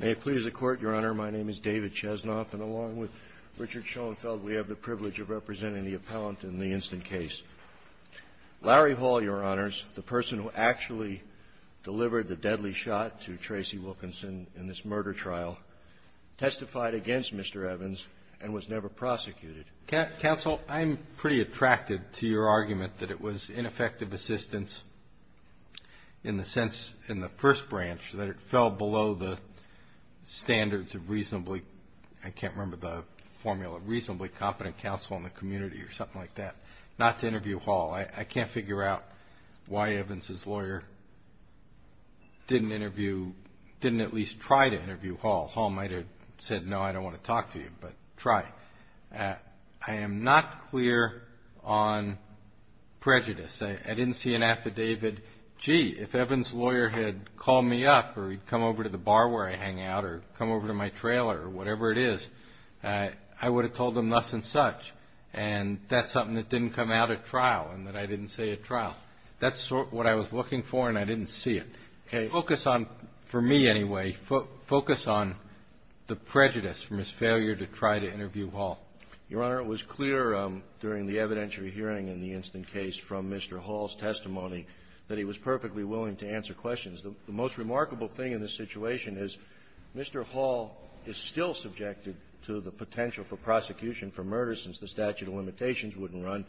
May it please the Court, Your Honor, my name is David Chesnoff, and along with Richard Schoenfeld, we have the privilege of representing the appellant in the instant case. Larry Hall, Your Honors, the person who actually delivered the deadly shot to Tracy Wilkinson in this murder trial, testified against Mr. Evans and was never prosecuted. Counsel, I'm pretty attracted to your argument that it was ineffective assistance in the sense in the first branch that it fell below the standards of reasonably, I can't remember the formula, reasonably competent counsel in the community or something like that. Not to interview Hall. I can't figure out why Evans's lawyer didn't interview, didn't at least try to interview Hall. Hall might have said, no, I don't want to talk to you, but try. I am not clear on prejudice. I didn't see an affidavit. Gee, if Evans's lawyer had called me up or he'd come over to the bar where I hang out or come over to my trailer or whatever it is, I would have told them thus and such, and that's something that didn't come out at trial and that I didn't say at trial. That's what I was talking about. For me, anyway, focus on the prejudice from his failure to try to interview Hall. Your Honor, it was clear during the evidentiary hearing in the instant case from Mr. Hall's testimony that he was perfectly willing to answer questions. The most remarkable thing in this situation is Mr. Hall is still subjected to the potential for prosecution for murder since the statute of limitations wouldn't run,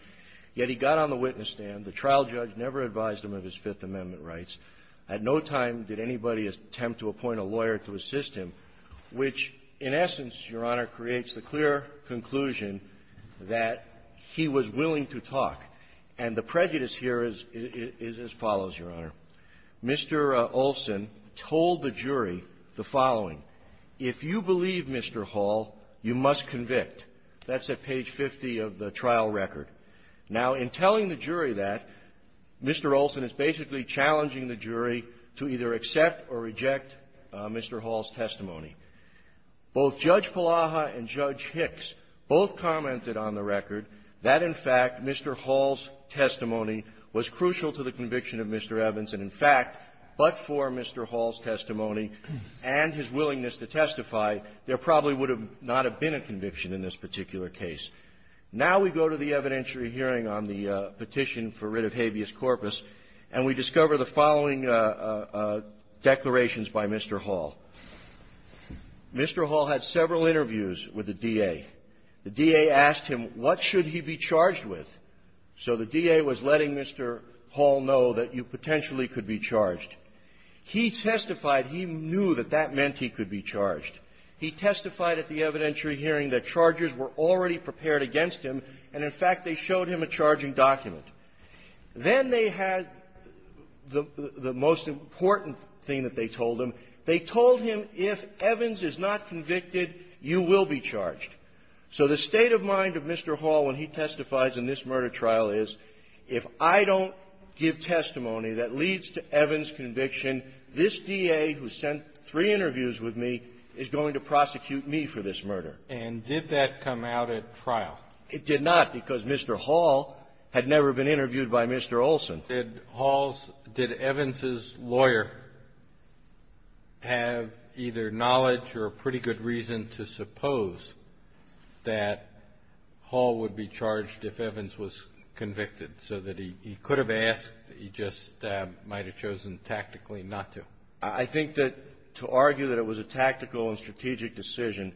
yet he got on the witness stand. The trial judge never advised him of his Fifth Amendment rights. At no time did anybody attempt to appoint a lawyer to assist him, which, in essence, Your Honor, creates the clear conclusion that he was willing to talk. And the prejudice here is as follows, Your Honor. Mr. Olson told the jury the following. If you believe Mr. Hall, you must convict. That's at page 50 of the trial record. Now, in telling the jury that, Mr. Olson is basically challenging the jury to either accept or reject Mr. Hall's testimony. Both Judge Palaha and Judge Hicks both commented on the record that, in fact, Mr. Hall's testimony was crucial to the conviction of Mr. Evans, and, in fact, but for Mr. Hall's testimony and his willingness to testify, there probably would have not have been a conviction in this particular case. Now we go to the evidentiary hearing on the petition for writ of habeas corpus, and we discover the following declarations by Mr. Hall. Mr. Hall had several interviews with the D.A. The D.A. asked him, what should he be charged with? So the D.A. was letting Mr. Hall know that you potentially could be charged. He testified he knew that that meant he could be charged. He testified at the evidentiary hearing that charges were already prepared against him, and, in fact, they showed him a charging document. Then they had the most important thing that they told him. They told him if Evans is not convicted, you will be charged. So the state of mind of Mr. Hall when he testifies in this murder trial is, if I don't give testimony that leads to Evans' conviction, this D.A. who sent three interviews with me is going to prosecute me for this murder. And did that come out at trial? It did not, because Mr. Hall had never been interviewed by Mr. Olson. Did Hall's – did Evans' lawyer have either knowledge or a pretty good reason to suppose that Hall would be charged if Evans was convicted, so that he could have asked, he just might have chosen tactically not to? I think that to argue that it was a tactical and strategic decision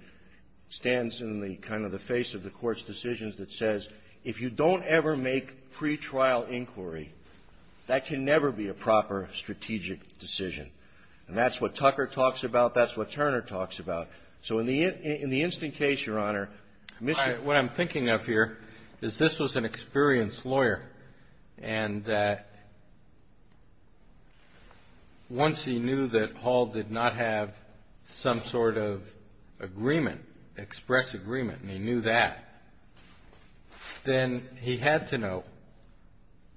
stands in the kind of the face of the Court's decisions that says, if you don't ever make pretrial inquiry, that can never be a proper strategic decision. And that's what Tucker talks about. That's what Turner talks about. So in the instant case, Your Honor, Mr. — All right. What I'm thinking of here is this was an experienced lawyer, and once he was convicted, he knew that Hall did not have some sort of agreement, express agreement, and he knew that. Then he had to know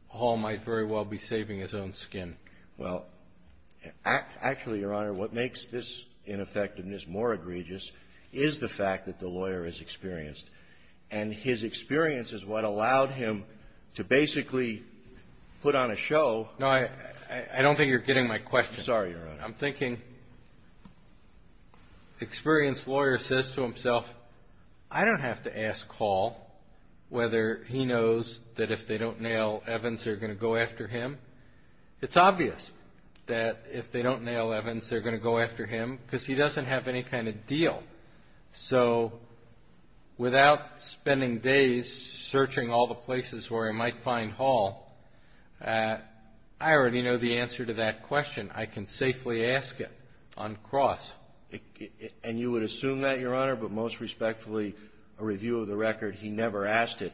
Hall might very well be saving his own skin. Well, actually, Your Honor, what makes this ineffectiveness more egregious is the fact that the lawyer is experienced. And his experience is what allowed him to basically put on a show – No, I don't think you're getting my question. I'm sorry, Your Honor. I'm thinking experienced lawyer says to himself, I don't have to ask Hall whether he knows that if they don't nail Evans, they're going to go after him. It's obvious that if they don't nail Evans, they're going to go after him because he doesn't have any kind of deal. So without spending days searching all the places where I might find Hall, I already know the answer to that question. I can safely ask it on cross. And you would assume that, Your Honor, but most respectfully, a review of the record, he never asked it.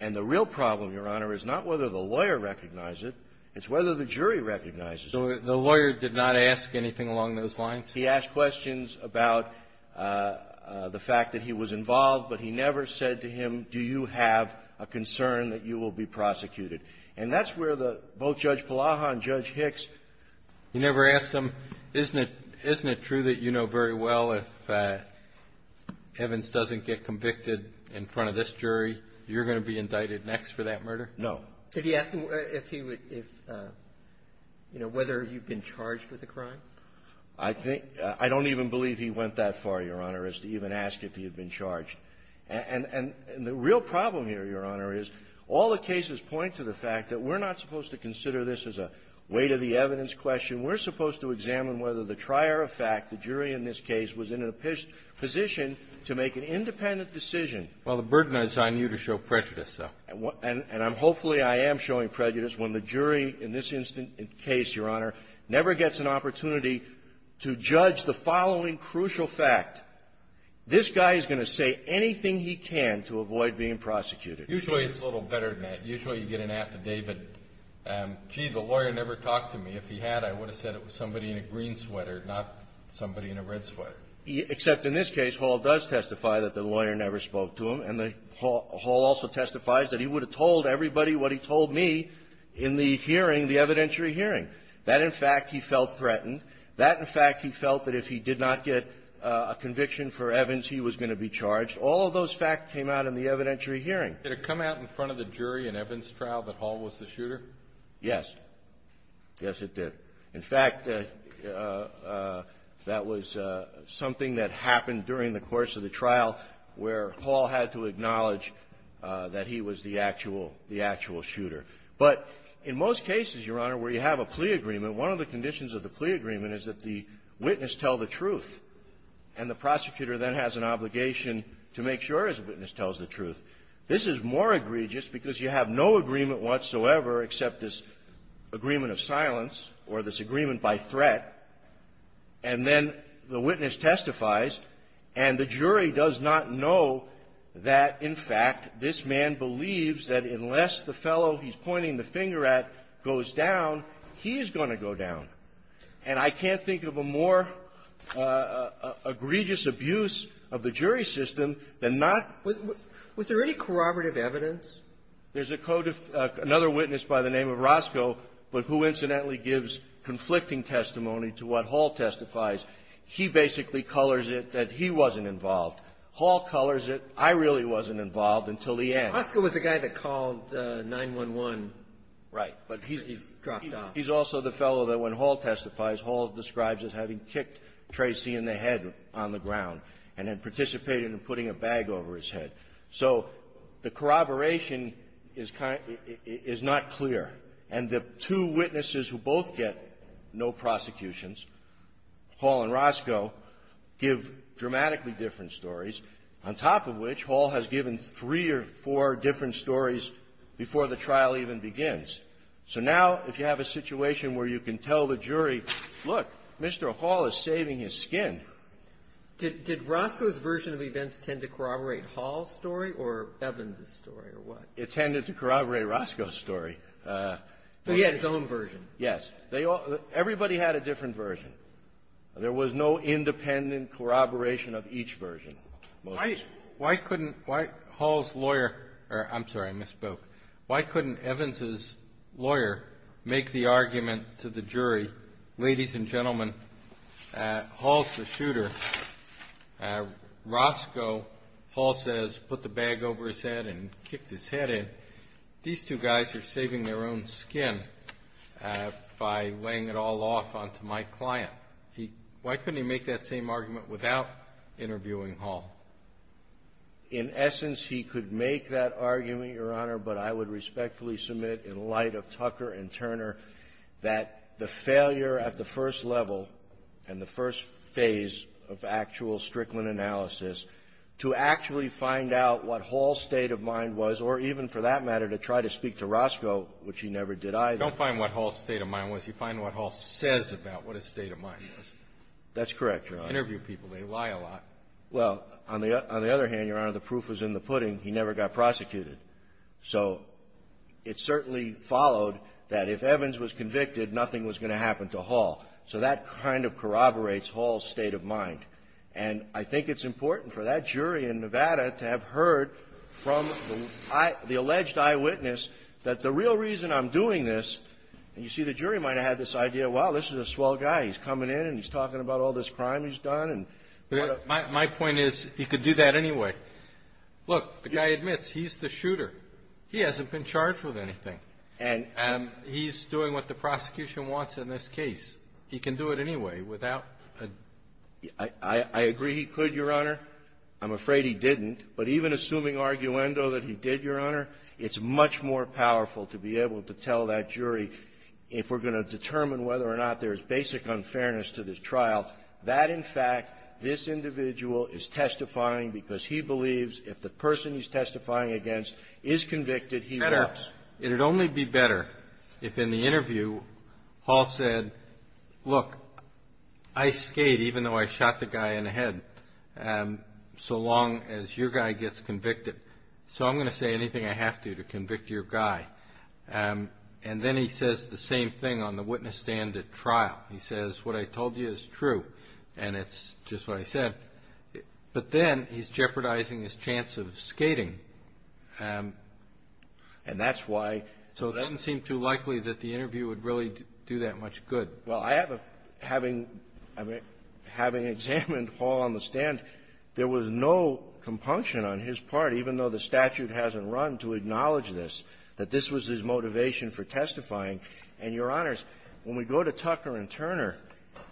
And the real problem, Your Honor, is not whether the lawyer recognized it, it's whether the jury recognized it. So the lawyer did not ask anything along those lines? He asked questions about the fact that he was involved, but he never said to him, do you have a concern that you will be prosecuted. And that's where the – both Judge Palaha and Judge Hicks – You never asked them, isn't it – isn't it true that you know very well if Evans doesn't get convicted in front of this jury, you're going to be indicted next for that murder? No. Did he ask him if he would – if – you know, whether you've been charged with a crime? I think – I don't even believe he went that far, Your Honor, as to even ask if he would be prosecuted. The real problem here, Your Honor, is all the cases point to the fact that we're not supposed to consider this as a weight-of-the-evidence question. We're supposed to examine whether the trier of fact, the jury in this case, was in a position to make an independent decision. Well, the burden is on you to show prejudice, though. And I'm – hopefully, I am showing prejudice when the jury in this instant case, Your Honor, never gets an opportunity to judge the following crucial fact. This guy is going to say anything he can to avoid being prosecuted. Usually, it's a little better than that. Usually, you get an at the day, but, gee, the lawyer never talked to me. If he had, I would have said it was somebody in a green sweater, not somebody in a red sweater. Except in this case, Hall does testify that the lawyer never spoke to him. And the – Hall also testifies that he would have told everybody what he told me in the hearing, the evidentiary hearing. That, in fact, he felt threatened. That, in fact, he felt that if he did not get a conviction for Evans, he was going to be charged. All of those facts came out in the evidentiary hearing. Did it come out in front of the jury in Evans' trial that Hall was the shooter? Yes. Yes, it did. In fact, that was something that happened during the course of the trial where Hall had to acknowledge that he was the actual – the actual shooter. But in most cases, Your Honor, where you have a plea agreement, one of the conditions of the plea agreement is that the witness tell the truth. And the prosecutor then has an obligation to make sure his witness tells the truth. This is more egregious because you have no agreement whatsoever except this agreement of silence or this agreement by threat, and then the witness testifies, and the jury does not know that, in fact, this man believes that unless the fellow he's pointing the finger at goes down, he is going to go down. And I can't think of a more egregious abuse of the jury system than not – Was there any corroborative evidence? There's a code of – another witness by the name of Roscoe, but who incidentally gives conflicting testimony to what Hall testifies. He basically colors it that he wasn't involved. Hall colors it I really wasn't involved until the end. Roscoe was the guy that called 911. Right. But he's dropped off. He's also the fellow that when Hall testifies, Hall describes as having kicked Tracy in the head on the ground and then participated in putting a bag over his head. So the corroboration is kind of – is not clear. And the two witnesses who both get no prosecutions, Hall and Roscoe, give dramatically different stories, on top of which Hall has given three or four different stories before the trial even begins. So now if you have a situation where you can tell the jury, look, Mr. Hall is saving his skin. Did Roscoe's version of events tend to corroborate Hall's story or Evans' story or what? It tended to corroborate Roscoe's story. So he had his own version. Yes. They all – everybody had a different version. There was no independent corroboration of each version. Why couldn't – why Hall's lawyer – I'm sorry, I misspoke. Why couldn't Evans' lawyer make the argument to the jury, ladies and gentlemen, Hall's the shooter. Roscoe, Hall says, put the bag over his head and kicked his head in. These two guys are saving their own skin by laying it all off onto my client. Why couldn't he make that same argument without interviewing Hall? In essence, he could make that argument, Your Honor, but I would respectfully submit in light of Tucker and Turner that the failure at the first level and the first phase of actual Strickland analysis to actually find out what Hall's state of mind was, or even for that matter to try to speak to Roscoe, which he never did either. You don't find what Hall's state of mind was. You find what Hall says about what his state of mind was. That's correct, Your Honor. Interview people. They lie a lot. Well, on the other hand, Your Honor, the proof was in the pudding. He never got prosecuted. So it certainly followed that if Evans was convicted, nothing was going to happen to Hall. So that kind of corroborates Hall's state of mind. And I think it's important for that jury in Nevada to have heard from the alleged eyewitness that the real reason I'm doing this, and you see the jury might have had this idea, wow, this is a swell guy. He's coming in and he's talking about all this crime he's done and what a ---- My point is he could do that anyway. Look, the guy admits he's the shooter. He hasn't been charged with anything. And he's doing what the prosecution wants in this case. He can do it anyway without a ---- I agree he could, Your Honor. I'm afraid he didn't. But even assuming arguendo that he did, Your Honor, it's much more powerful to be able to tell that jury if we're going to determine whether or not there's basic unfairness to this trial, that, in fact, this individual is testifying because he believes if the person he's testifying against is convicted, he will. It would only be better if in the interview Hall said, look, I skate even though I shot the guy in the head so long as your guy gets convicted. So I'm going to say anything I have to to convict your guy. And then he says the same thing on the witness stand at trial. He says, what I told you is true, and it's just what I said. But then he's jeopardizing his chance of skating. And that's why ---- So it doesn't seem too likely that the interview would really do that much good. Well, I have a ---- having ---- having examined Hall on the stand, there was no compunction on his part, even though the statute hasn't run, to acknowledge this, that this was his motivation for testifying. And, Your Honors, when we go to Tucker and Turner,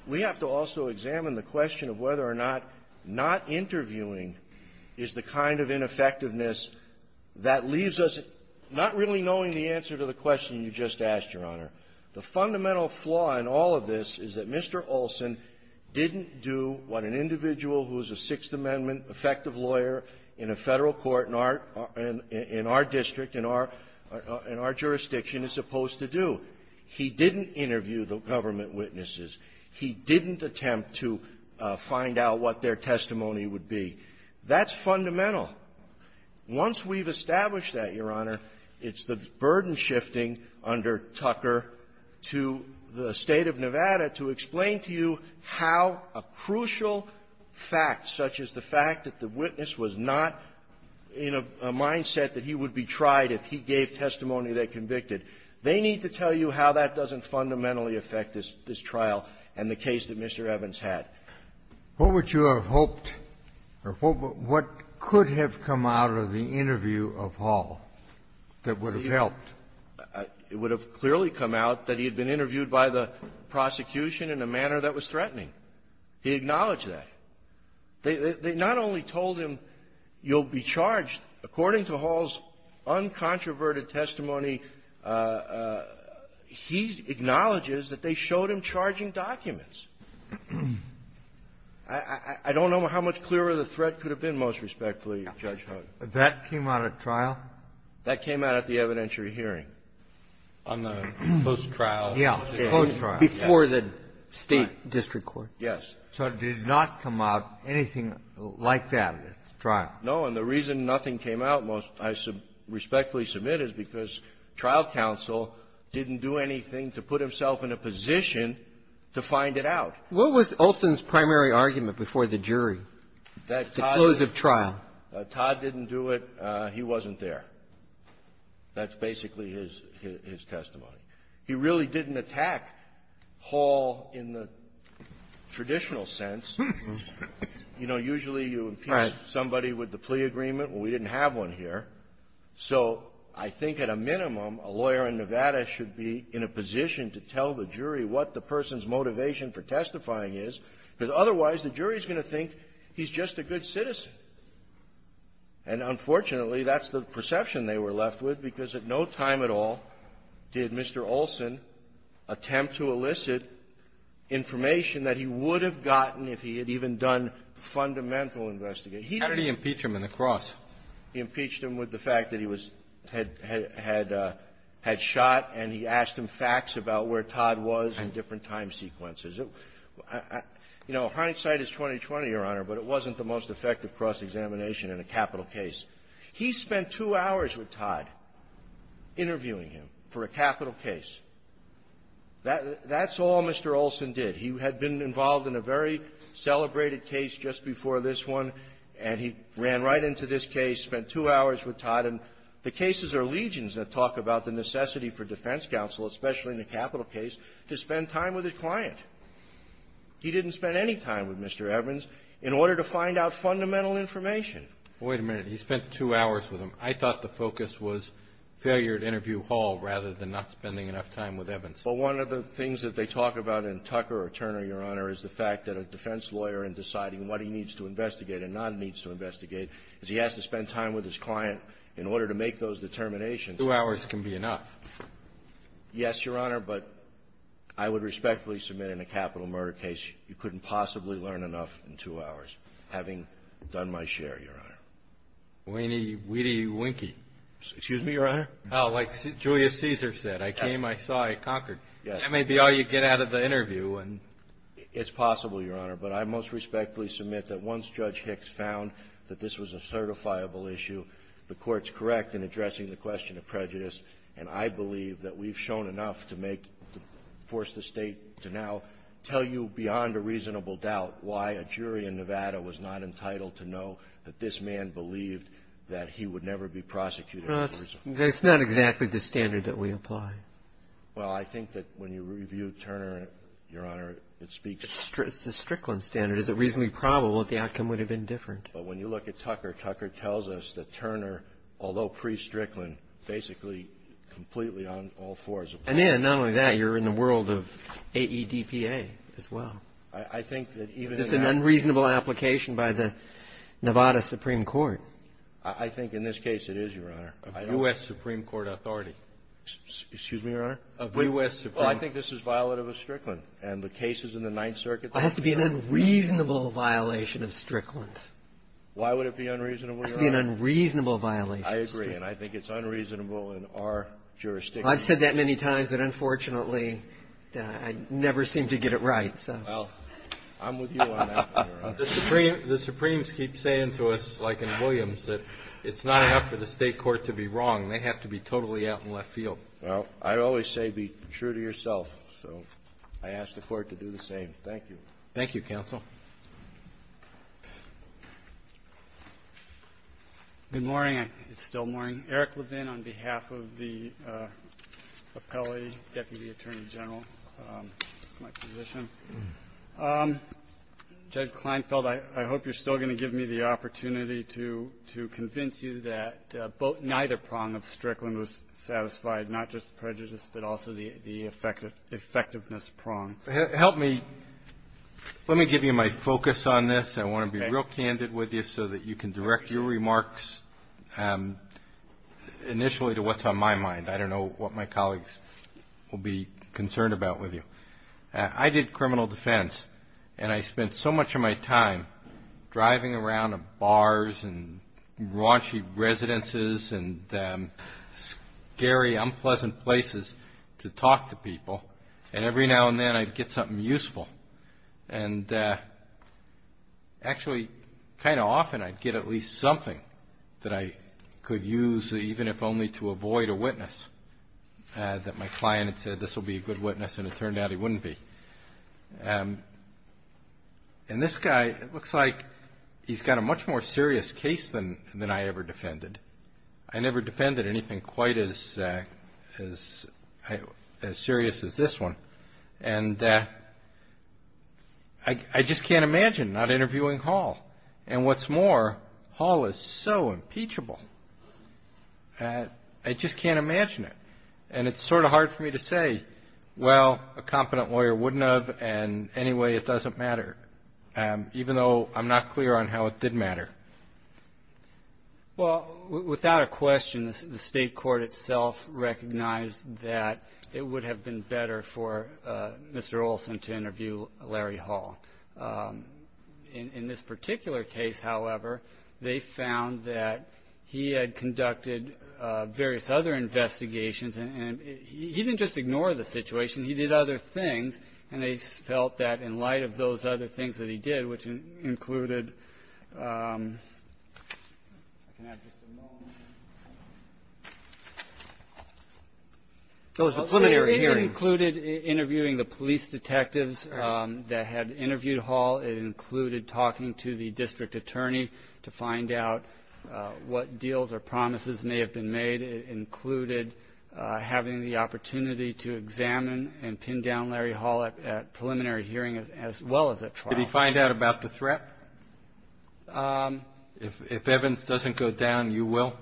we have to also examine the question of whether or not not interviewing is the kind of ineffectiveness that leaves us not really knowing the answer to the question you just asked, Your Honor. The fundamental flaw in all of this is that Mr. Olson didn't do what an individual who is a Sixth Amendment-effective lawyer in a Federal court in our ---- in our district, in our jurisdiction is supposed to do. He didn't interview the government witnesses. He didn't attempt to find out what their testimony would be. That's fundamental. Once we've established that, Your Honor, it's the burden-shifting under Tucker and Turner to the State of Nevada to explain to you how a crucial fact, such as the fact that the witness was not in a mindset that he would be tried if he gave testimony they convicted. They need to tell you how that doesn't fundamentally affect this trial and the case that Mr. Evans had. What would you have hoped or what could have come out of the interview of Hall that would have helped? It would have clearly come out that he had been interviewed by the prosecution in a manner that was threatening. He acknowledged that. They not only told him, you'll be charged, according to Hall's uncontroverted testimony, he acknowledges that they showed him charging documents. I don't know how much clearer the threat could have been, most respectfully, Judge Hogan. That came out at trial? That came out at the evidentiary hearing. On the post-trial? Yeah. The post-trial. Before the State district court? Yes. So it did not come out anything like that at the trial? No. And the reason nothing came out, most I respectfully submit, is because trial counsel didn't do anything to put himself in a position to find it out. What was Olson's primary argument before the jury, the close of trial? Todd didn't do it. He wasn't there. That's basically his testimony. He really didn't attack Hall in the traditional sense. You know, usually you impeach somebody with the plea agreement. Well, we didn't have one here. So I think at a minimum, a lawyer in Nevada should be in a position to tell the jury what the person's motivation for testifying is, because otherwise the jury is going to think he's just a good citizen. And unfortunately, that's the perception they were left with, because at no time at all did Mr. Olson attempt to elicit information that he would have gotten if he had even done fundamental investigation. How did he impeach him in the cross? He impeached him with the fact that he was had shot, and he asked him facts about where Todd was in different time sequences. You know, hindsight is 20-20, Your Honor, but it wasn't the most effective cross-examination in a capital case. He spent two hours with Todd interviewing him for a capital case. That's all Mr. Olson did. He had been involved in a very celebrated case just before this one, and he ran right into this case, spent two hours with Todd. And the cases are legions that talk about the necessity for defense counsel, especially in a capital case, to spend time with his client. He didn't spend any time with Mr. Evans in order to find out fundamental information. Wait a minute. He spent two hours with him. I thought the focus was failure at interview hall rather than not spending enough time with Evans. Well, one of the things that they talk about in Tucker or Turner, Your Honor, is the fact that a defense lawyer, in deciding what he needs to investigate and not needs to investigate, is he has to spend time with his client in order to make those determinations. Two hours can be enough. Yes, Your Honor, but I would respectfully submit in a capital murder case you couldn't possibly learn enough in two hours, having done my share, Your Honor. Weedy, weedy, winky. Excuse me, Your Honor? Oh, like Julius Caesar said, I came, I saw, I conquered. Yes. That may be all you get out of the interview. It's possible, Your Honor. But I most respectfully submit that once Judge Hicks found that this was a certifiable issue, the Court's correct in addressing the question of prejudice. And I believe that we've shown enough to make, to force the State to now tell you beyond a reasonable doubt why a jury in Nevada was not entitled to know that this man believed that he would never be prosecuted for a reason. Well, it's not exactly the standard that we apply. Well, I think that when you review Turner, Your Honor, it speaks to the Strickland standard. It's a reasonably probable that the outcome would have been different. But when you look at Tucker, Tucker tells us that Turner, although pre-Strickland, basically completely on all fours of them. And then, not only that, you're in the world of AEDPA as well. I think that even that — This is an unreasonable application by the Nevada Supreme Court. I think in this case it is, Your Honor. Of U.S. Supreme Court authority. Excuse me, Your Honor? Of U.S. Supreme — Well, I think this is violative of Strickland. And the cases in the Ninth Circuit — Well, it has to be an unreasonable violation of Strickland. Why would it be unreasonable, Your Honor? It has to be an unreasonable violation. I agree. And I think it's unreasonable in our jurisdiction. I've said that many times, but unfortunately, I never seem to get it right. So — Well, I'm with you on that one, Your Honor. The Supremes keep saying to us, like in Williams, that it's not enough for the State court to be wrong. They have to be totally out in left field. Well, I always say be true to yourself. So I ask the Court to do the same. Thank you. Thank you, counsel. Good morning. It's still morning. Eric Levin on behalf of the appellee, Deputy Attorney General. That's my position. Judge Kleinfeld, I hope you're still going to give me the opportunity to — to convince you that both — neither prong of Strickland was satisfied, not just prejudice, but also the — the effectiveness prong. Help me — let me give you my focus on this. I want to be real candid with you so that you can direct your remarks initially to what's on my mind. I don't know what my colleagues will be concerned about with you. I did criminal defense, and I spent so much of my time driving around bars and raunchy residences and scary, unpleasant places to talk to people. And every now and then, I'd get something useful. And actually, kind of often, I'd get at least something that I could use, even if only to avoid a witness, that my client had said, this will be a good witness, and it turned out he wouldn't be. And this guy, it looks like he's got a much more serious case than — than I ever defended. I never defended anything quite as — as — as serious as this one. And I just can't imagine not interviewing Hall. And what's more, Hall is so impeachable, I just can't imagine it. And it's sort of hard for me to say, well, a competent lawyer wouldn't have, and anyway, it doesn't matter, even though I'm not clear on how it did matter. Well, without a question, the state court itself recognized that it would have been better for Mr. Olson to interview Larry Hall. In this particular case, however, they found that he had conducted various other investigations, and he didn't just ignore the situation. He did other things, and they felt that in light of those other things that he did, which included — I can have just a moment. Oh, it was a preliminary hearing. It included interviewing the police detectives that had interviewed Hall. It included talking to the district attorney to find out what deals or promises may have been made. It included having the opportunity to examine and pin down Larry Hall at preliminary hearing as well as at trial. Could he find out about the threat? If evidence doesn't go down, you will?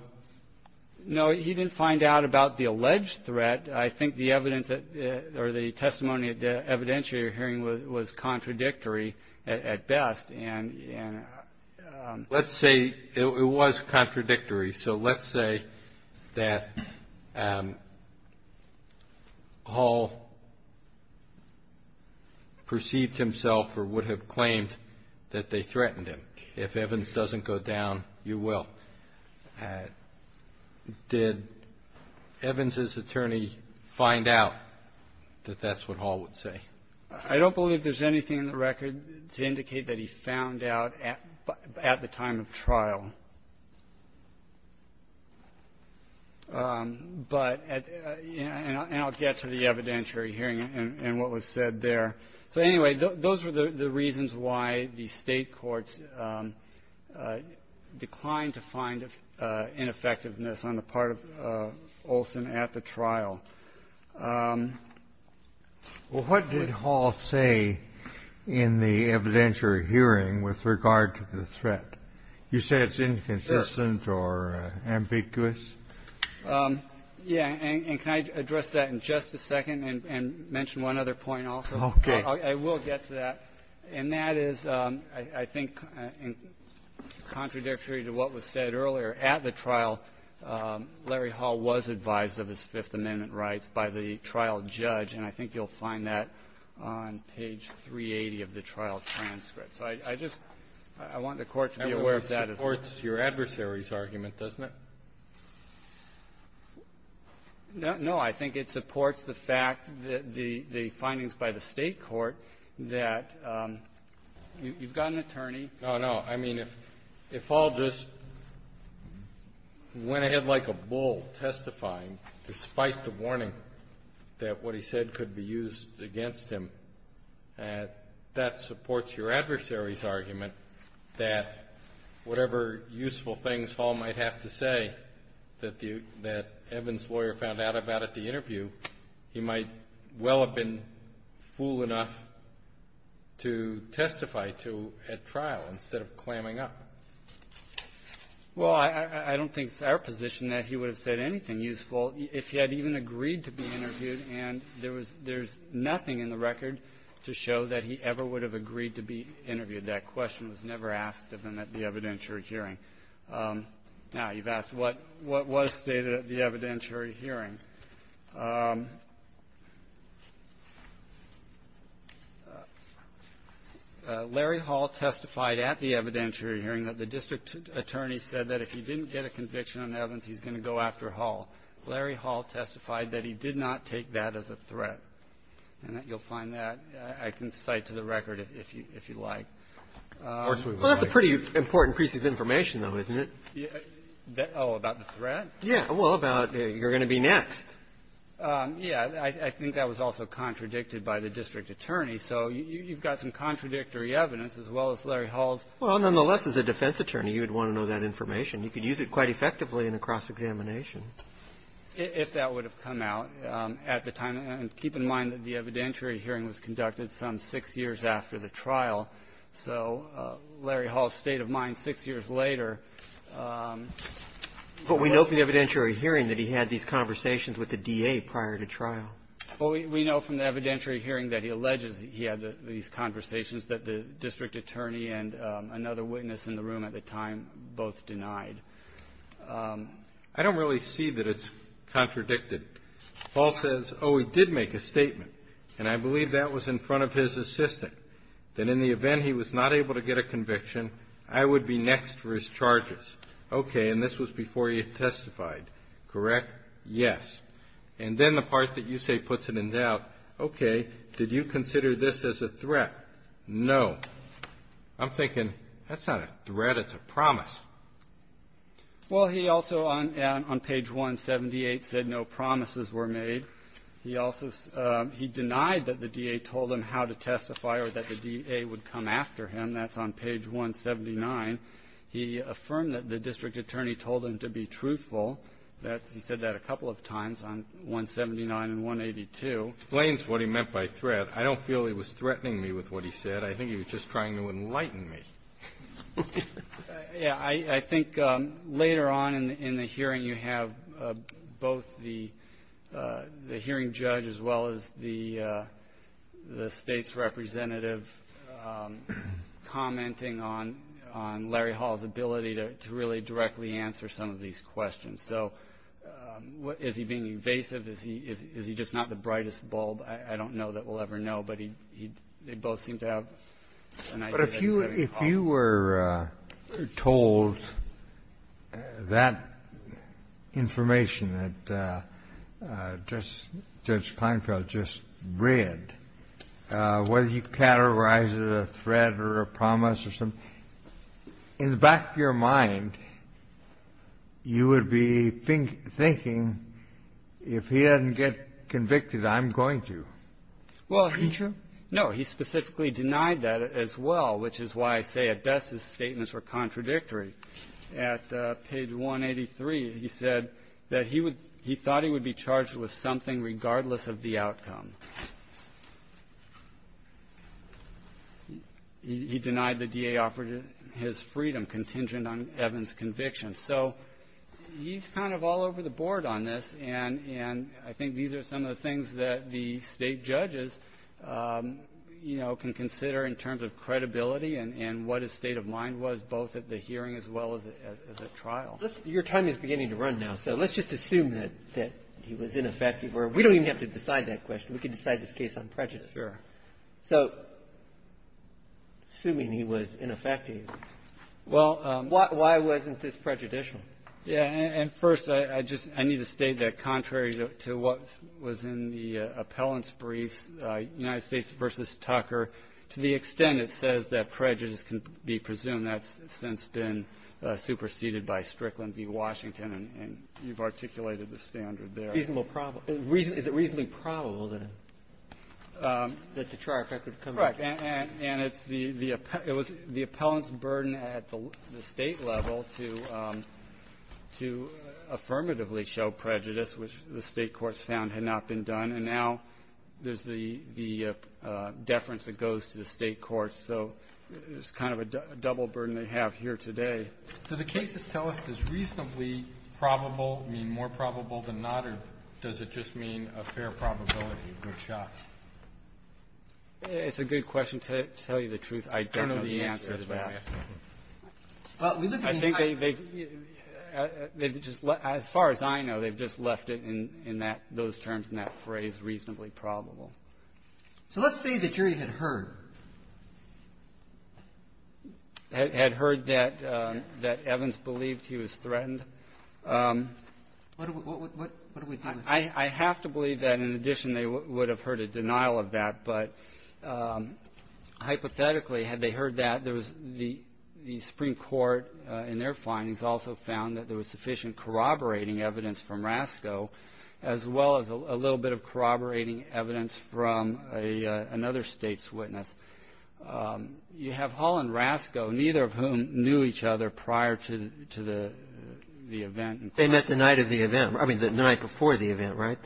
No, he didn't find out about the alleged threat. I think the evidence or the testimony at the evidentiary hearing was contradictory at best, and — Let's say it was contradictory. So let's say that Hall perceived himself or would have claimed that they threatened him. If evidence doesn't go down, you will. Did Evans' attorney find out that that's what Hall would say? I don't believe there's anything in the record to indicate that he found out at the time of trial. But — and I'll get to the evidentiary hearing and what was said there. So, anyway, those were the reasons why the State courts declined to find ineffectiveness on the part of Olson at the trial. Well, what did Hall say in the evidentiary hearing with regard to the threat? You say it's inconsistent or ambiguous? Yeah. And can I address that in just a second and mention one other point also? Okay. I will get to that. And that is, I think, contradictory to what was said earlier. At the trial, Larry Hall was advised of his Fifth Amendment rights by the trial judge, and I think you'll find that on page 380 of the trial transcript. So I just — I want the Court to be aware of that as well. That supports your adversary's argument, doesn't it? No. I think it supports the fact that the findings by the State court that you've got an attorney. No, no. I mean, if Hall just went ahead like a bull testifying despite the warning that what he said could be used against him, that supports your adversary's argument. That whatever useful things Hall might have to say that Evan's lawyer found out about at the interview, he might well have been fool enough to testify to at trial instead of clamming up. Well, I don't think it's our position that he would have said anything useful if he had even agreed to be interviewed, and there's nothing in the record to show that he ever would have agreed to be interviewed. That question was never asked of him at the evidentiary hearing. Now, you've asked what was stated at the evidentiary hearing. Larry Hall testified at the evidentiary hearing that the district attorney said that if he didn't get a conviction on Evans, he's going to go after Hall. Larry Hall testified that he did not take that as a threat. And you'll find that I can cite to the record if you like. Well, that's a pretty important piece of information, though, isn't it? Oh, about the threat? Yeah. Well, about you're going to be next. Yeah. I think that was also contradicted by the district attorney. So you've got some contradictory evidence as well as Larry Hall's. Well, nonetheless, as a defense attorney, you would want to know that information. You could use it quite effectively in a cross-examination. If that would have come out at the time. And keep in mind that the evidentiary hearing was conducted some six years after the trial. So Larry Hall's state of mind six years later. But we know from the evidentiary hearing that he had these conversations with the DA prior to trial. Well, we know from the evidentiary hearing that he alleges he had these conversations that the district attorney and another witness in the room at the time both denied. I don't really see that it's contradicted. Hall says, oh, he did make a statement. And I believe that was in front of his assistant. That in the event he was not able to get a conviction, I would be next for his charges. Okay. And this was before he testified. Correct? Yes. And then the part that you say puts it in doubt. Okay. Did you consider this as a threat? No. I'm thinking, that's not a threat. It's a promise. Well, he also on page 178 said no promises were made. He denied that the DA told him how to testify or that the DA would come after him. That's on page 179. He affirmed that the district attorney told him to be truthful. He said that a couple of times on 179 and 182. Explains what he meant by threat. I don't feel he was threatening me with what he said. I think he was just trying to enlighten me. Yeah. I think later on in the hearing, you have both the hearing judge as well as the state's representative commenting on Larry Hall's ability to really directly answer some of these questions. So is he being evasive? Is he just not the brightest bulb? I don't know that we'll ever know. But they both seem to have an idea. But if you were told that information that Judge Kleinfeld just read, whether you categorize it as a threat or a promise or something, in the back of your mind, you would be thinking, if he doesn't get convicted, I'm going to. Well, he specifically denied that as well. Which is why I say, at best, his statements were contradictory. At page 183, he said that he would he thought he would be charged with something regardless of the outcome. He denied the DA offered his freedom contingent on Evans' conviction. So he's kind of all over the board on this. And I think these are some of the things that the state judges, you know, can consider in terms of credibility and what his state of mind was, both at the hearing as well as at trial. Your time is beginning to run now. So let's just assume that he was ineffective. We don't even have to decide that question. We can decide this case on prejudice. Sure. So assuming he was ineffective, why wasn't this prejudicial? Yeah. And first, I just need to state that contrary to what was in the appellant's brief, United States v. Tucker, to the extent it says that prejudice can be presumed, that's since been superseded by Strickland v. Washington. And you've articulated the standard there. Is it reasonably probable that the trial record would come back? Right. And it's the appellant's burden at the State level to affirmatively show prejudice, which the State courts found had not been done. And now there's the deference that goes to the State courts. So it's kind of a double burden they have here today. Do the cases tell us, does reasonably probable mean more probable than not, or does it just mean a fair probability, a good shot? It's a good question. To tell you the truth, I don't know the answer to that. I don't know the answer to that. I think they've just left, as far as I know, they've just left it in that, those terms and that phrase, reasonably probable. So let's say the jury had heard. Had heard that Evans believed he was threatened. What do we do with that? I have to believe that, in addition, they would have heard a denial of that. But hypothetically, had they heard that, there was the Supreme Court, in their findings, also found that there was sufficient corroborating evidence from Rasko, as well as a little bit of corroborating evidence from another State's witness. You have Hull and Rasko, neither of whom knew each other prior to the event. They met the night of the event. I mean, the night before the event, right?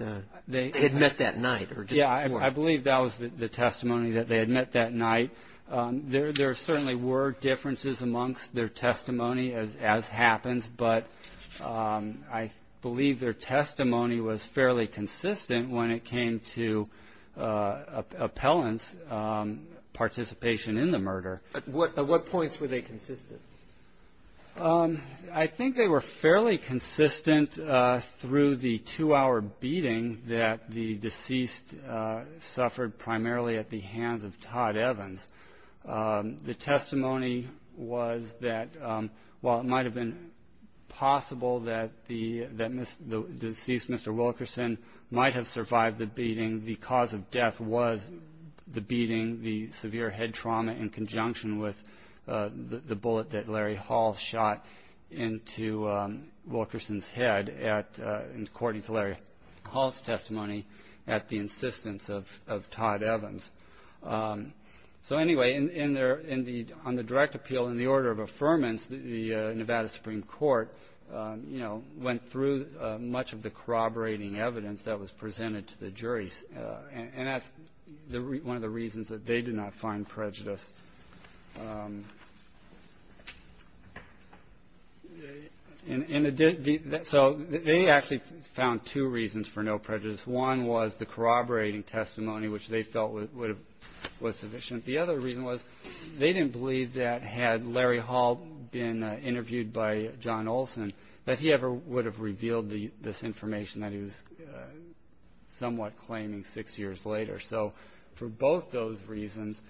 They had met that night, or just before. Yeah, I believe that was the testimony, that they had met that night. There certainly were differences amongst their testimony, as happens. But I believe their testimony was fairly consistent when it came to appellant's participation in the murder. At what points were they consistent? I think they were fairly consistent through the two-hour beating that the deceased suffered, primarily at the hands of Todd Evans. The testimony was that while it might have been possible that the deceased, Mr. Wilkerson, might have survived the beating, the cause of death was the beating, the severe head trauma, in conjunction with the bullet that Larry Hull shot into Wilkerson's head, according to Larry Hull's testimony, at the insistence of Todd Evans. So anyway, on the direct appeal, in the order of affirmance, the Nevada Supreme Court went through much of the corroborating evidence that was presented to the jury. And that's one of the reasons that they did not find prejudice. One was the corroborating testimony, which they felt was sufficient. The other reason was they didn't believe that, had Larry Hull been interviewed by John Olson, that he ever would have revealed this information that he was somewhat claiming six years later. So for both those reasons,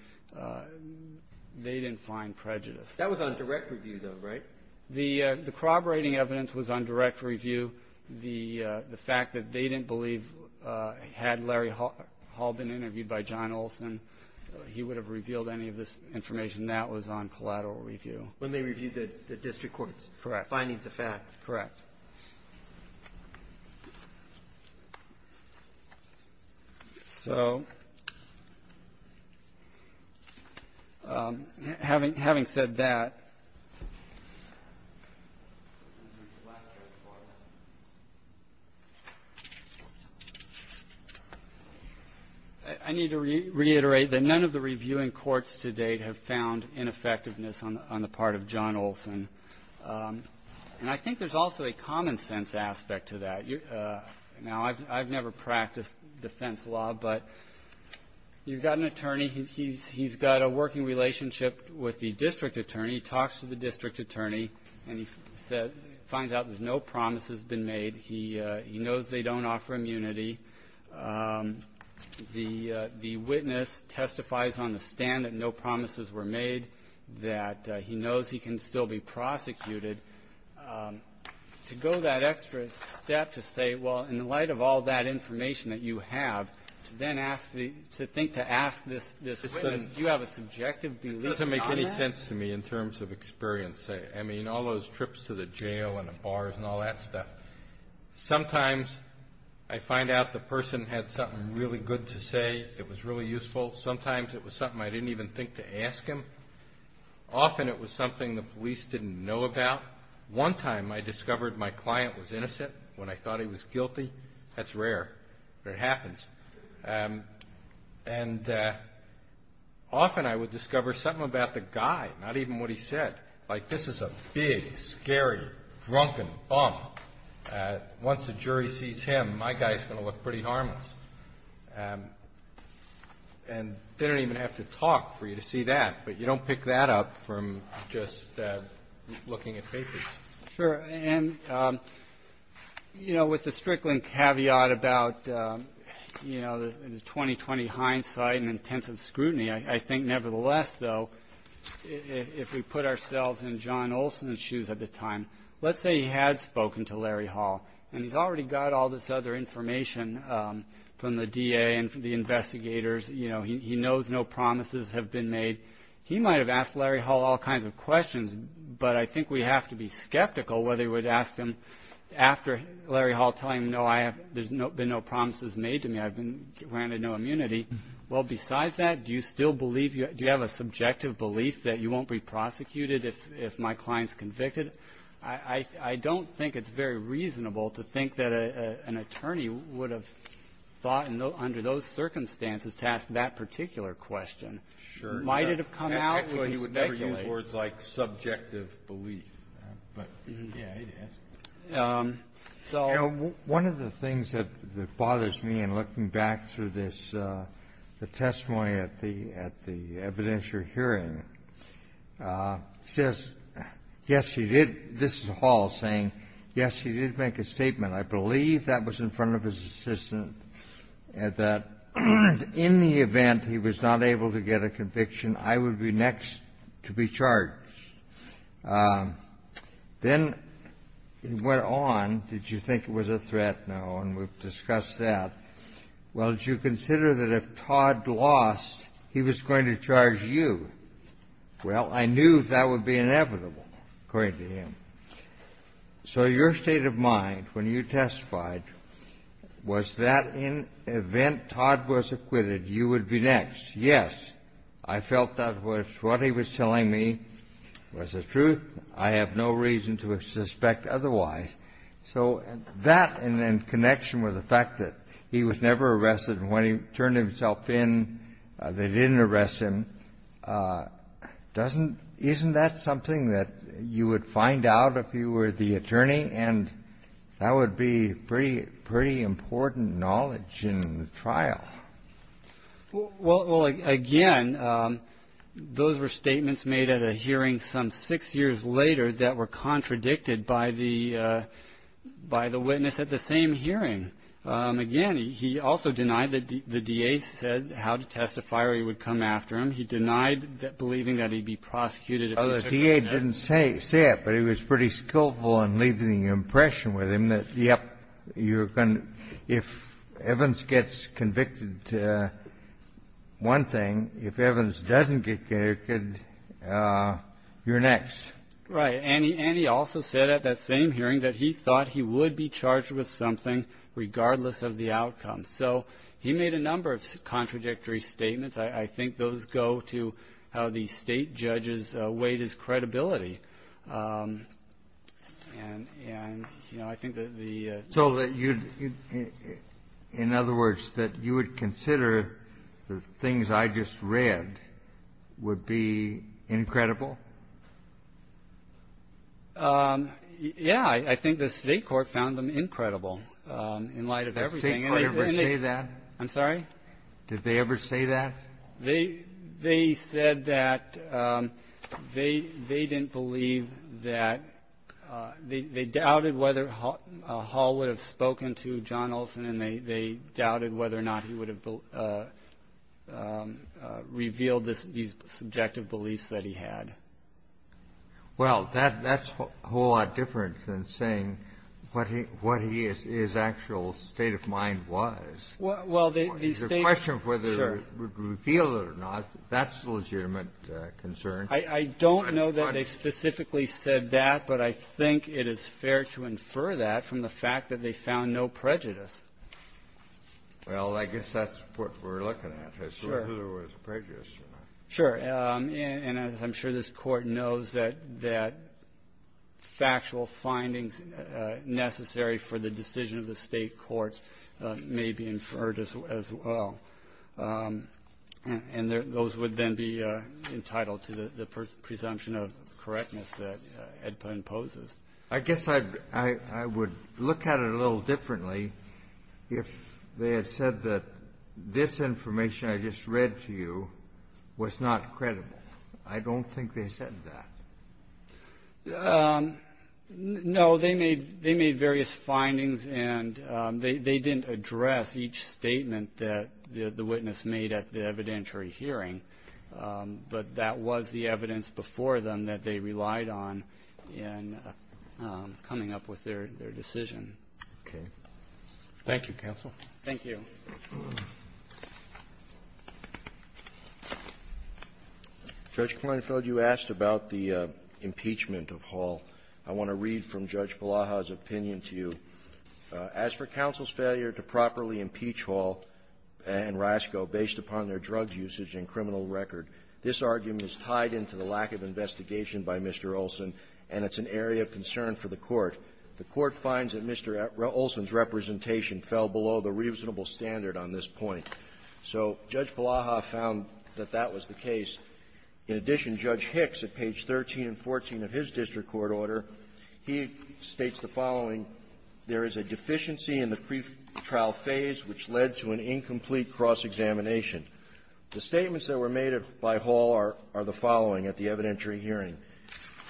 they didn't find prejudice. That was on direct review, though, right? The corroborating evidence was on direct review. The fact that they didn't believe, had Larry Hull been interviewed by John Olson, he would have revealed any of this information. That was on collateral review. When they reviewed the district court's findings of fact. Correct. So, having said that, I need to reiterate that none of the reviewing courts to date have found ineffectiveness on the part of John Olson. And I think there's also a common sense aspect to that. Now, I've never practiced defense law, but you've got an attorney, he's got a working relationship with the district attorney, talks to the district attorney, and he finds out there's no promises been made. He knows they don't offer immunity. The witness testifies on the stand that no promises were made, that he knows he can still be prosecuted. To go that extra step to say, well, in light of all that information that you have, to then ask, to think, to ask this witness, do you have a subjective belief on that? It makes sense to me in terms of experience. I mean, all those trips to the jail and the bars and all that stuff. Sometimes I find out the person had something really good to say, it was really useful. Sometimes it was something I didn't even think to ask him. Often it was something the police didn't know about. One time I discovered my client was innocent when I thought he was guilty. That's rare, but it happens. And often I would discover something about the guy, not even what he said. Like, this is a big, scary, drunken bum. Once the jury sees him, my guy's going to look pretty harmless. And they don't even have to talk for you to see that, but you don't pick that up from just looking at papers. Sure. And, you know, with the Strickland caveat about the 20-20 hindsight and intensive scrutiny, I think nevertheless, though, if we put ourselves in John Olson's shoes at the time, let's say he had spoken to Larry Hall, and he's already got all this other information from the DA and the investigators. You know, he knows no promises have been made. He might have asked Larry Hall all kinds of questions, but I think we have to be skeptical whether we'd ask him after Larry Hall telling him, you know, there's been no promises made to me. I've been granted no immunity. Well, besides that, do you still believe do you have a subjective belief that you won't be prosecuted if my client's convicted? I don't think it's very reasonable to think that an attorney would have thought under those circumstances to ask that particular question. Sure. Might it have come out? Actually, you would never use words like subjective belief. But, yeah, it is. You know, one of the things that bothers me in looking back through this, the testimony at the evidentiary hearing, says, yes, he did. This is Hall saying, yes, he did make a statement. I believe that was in front of his assistant that in the event he was not able to get a conviction, I would be next to be charged. Then it went on. Did you think it was a threat? No. And we've discussed that. Well, did you consider that if Todd lost, he was going to charge you? Well, I knew that would be inevitable, according to him. So your state of mind when you testified, was that in event Todd was acquitted, you would be next? Yes. I felt that what he was telling me was the truth. I have no reason to suspect otherwise. So that, and then connection with the fact that he was never arrested, and when he turned himself in, they didn't arrest him, isn't that something that you would find out if you were the attorney? And that would be pretty important knowledge in the trial. Well, again, those were statements made at a hearing some six years later that were contradicted by the witness at the same hearing. Again, he also denied that the D.A. said how to testify or he would come after him. He denied believing that he'd be prosecuted if he took that net. Oh, the D.A. didn't say it, but he was pretty skillful in leaving the impression with him that, yep, you're going to, if Evans gets convicted one thing, if Evans doesn't get convicted, you're next. Right. And he also said at that same hearing that he thought he would be charged with something regardless of the outcome. So he made a number of contradictory statements. I think those go to how the State judges weighed his credibility. And, you know, I think that the... So that you'd, in other words, that you would consider the things I just read would be incredible? Yeah. I think the State court found them incredible in light of everything. Did they ever say that? I'm sorry? Did they ever say that? They said that they didn't believe that, they doubted whether Hall would have spoken to John Olson, and they doubted whether or not he would have revealed these subjective beliefs that he had. Well, that's a whole lot different than saying what his actual state of mind was. Well, the State... It's a question of whether he revealed it or not. That's a legitimate concern. I don't know that they specifically said that, but I think it is fair to infer that from the fact that they found no prejudice. Well, I guess that's what we're looking at, whether there was prejudice or not. Sure. And I'm sure this Court knows that factual findings necessary for the decision of the State courts may be inferred as well. And those would then be entitled to the presumption of correctness that EDPA imposes. I guess I would look at it a little differently if they had said that this information I just read to you was not credible. I don't think they said that. No, they made various findings and they didn't address each statement that the witness made at the evidentiary hearing. But that was the evidence before them that they relied on in coming up with their decision. Okay. Thank you, counsel. Thank you. Judge Kleinfeld, you asked about the impeachment of Hall. I want to read from Judge Balaha's opinion to you. As for counsel's failure to properly impeach Hall and Rasco based upon their drug usage and criminal record, this argument is tied into the lack of investigation by Mr. Olson, and it's an area of concern for the Court. The Court finds that Mr. Olson's representation fell below the reasonable standard on this point. So Judge Balaha found that that was the case. In addition, Judge Hicks, at page 13 and 14 of his district court order, he states the following. There is a deficiency in the pretrial phase which led to an incomplete cross-examination. The statements that were made by Hall are the following at the evidentiary hearing.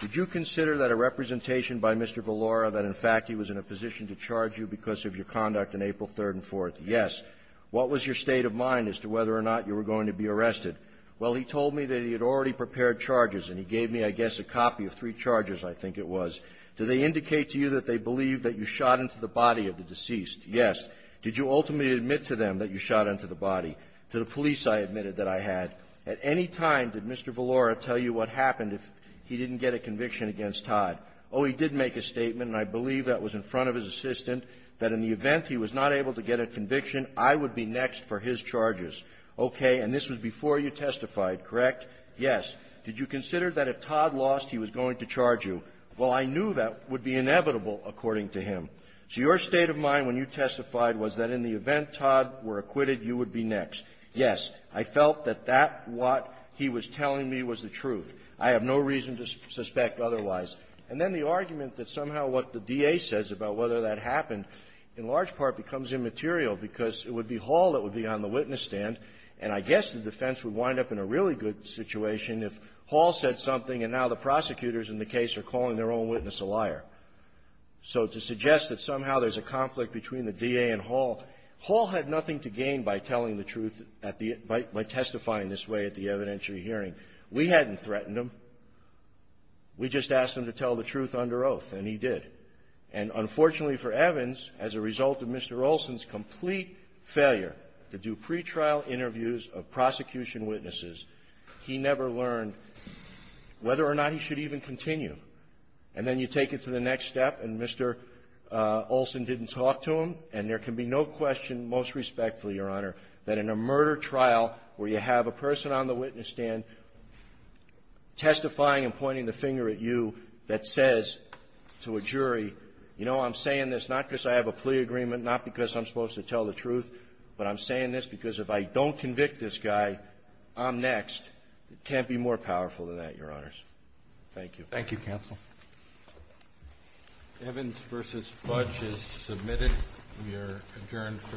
Did you consider that a representation by Mr. Villora that, in fact, he was in a position to charge you because of your conduct on April 3rd and 4th? Yes. What was your state of mind as to whether or not you were going to be arrested? Well, he told me that he had already prepared charges, and he gave me, I guess, a copy of three charges, I think it was. Do they indicate to you that they believe that you shot into the body of the deceased? Yes. Did you ultimately admit to them that you shot into the body? To the police, I admitted that I had. At any time, did Mr. Villora tell you what happened if he didn't get a conviction against Todd? Oh, he did make a statement, and I believe that was in front of his assistant, that in the event he was not able to get a conviction, I would be next for his charges. Okay. And this was before you testified, correct? Yes. Did you consider that if Todd lost, he was going to charge you? Well, I knew that would be inevitable, according to him. So your state of mind when you testified was that in the event Todd were acquitted, you would be next. Yes. I felt that that what he was telling me was the truth. I have no reason to suspect otherwise. And then the argument that somehow what the DA says about whether that happened, in large part, becomes immaterial because it would be Hall that would be on the witness stand, and I guess the defense would wind up in a really good situation if Hall said something, and now the prosecutors in the case are calling their own witness a liar. So to suggest that somehow there's a conflict between the DA and Hall, Hall had nothing to gain by telling the truth at the — by testifying this way at the evidentiary hearing. We hadn't threatened him. We just asked him to tell the truth under oath, and he did. And unfortunately for Evans, as a result of Mr. Olson's complete failure to do pretrial interviews of prosecution witnesses, he never learned whether or not he should even continue. And then you take it to the next step and Mr. Olson didn't talk to him, and there can be no question, most respectfully, Your Honor, that in a murder trial where you have a person on the witness stand testifying and pointing the finger at you that says to a jury, you know, I'm saying this not because I have a plea agreement, not because I'm supposed to tell the truth, but I'm saying this because if I don't convict this guy, I'm next. It can't be more powerful than that, Your Honors. Thank you. Thank you, counsel. Evans v. Fudge is submitted. We are adjourned for the day. All rise.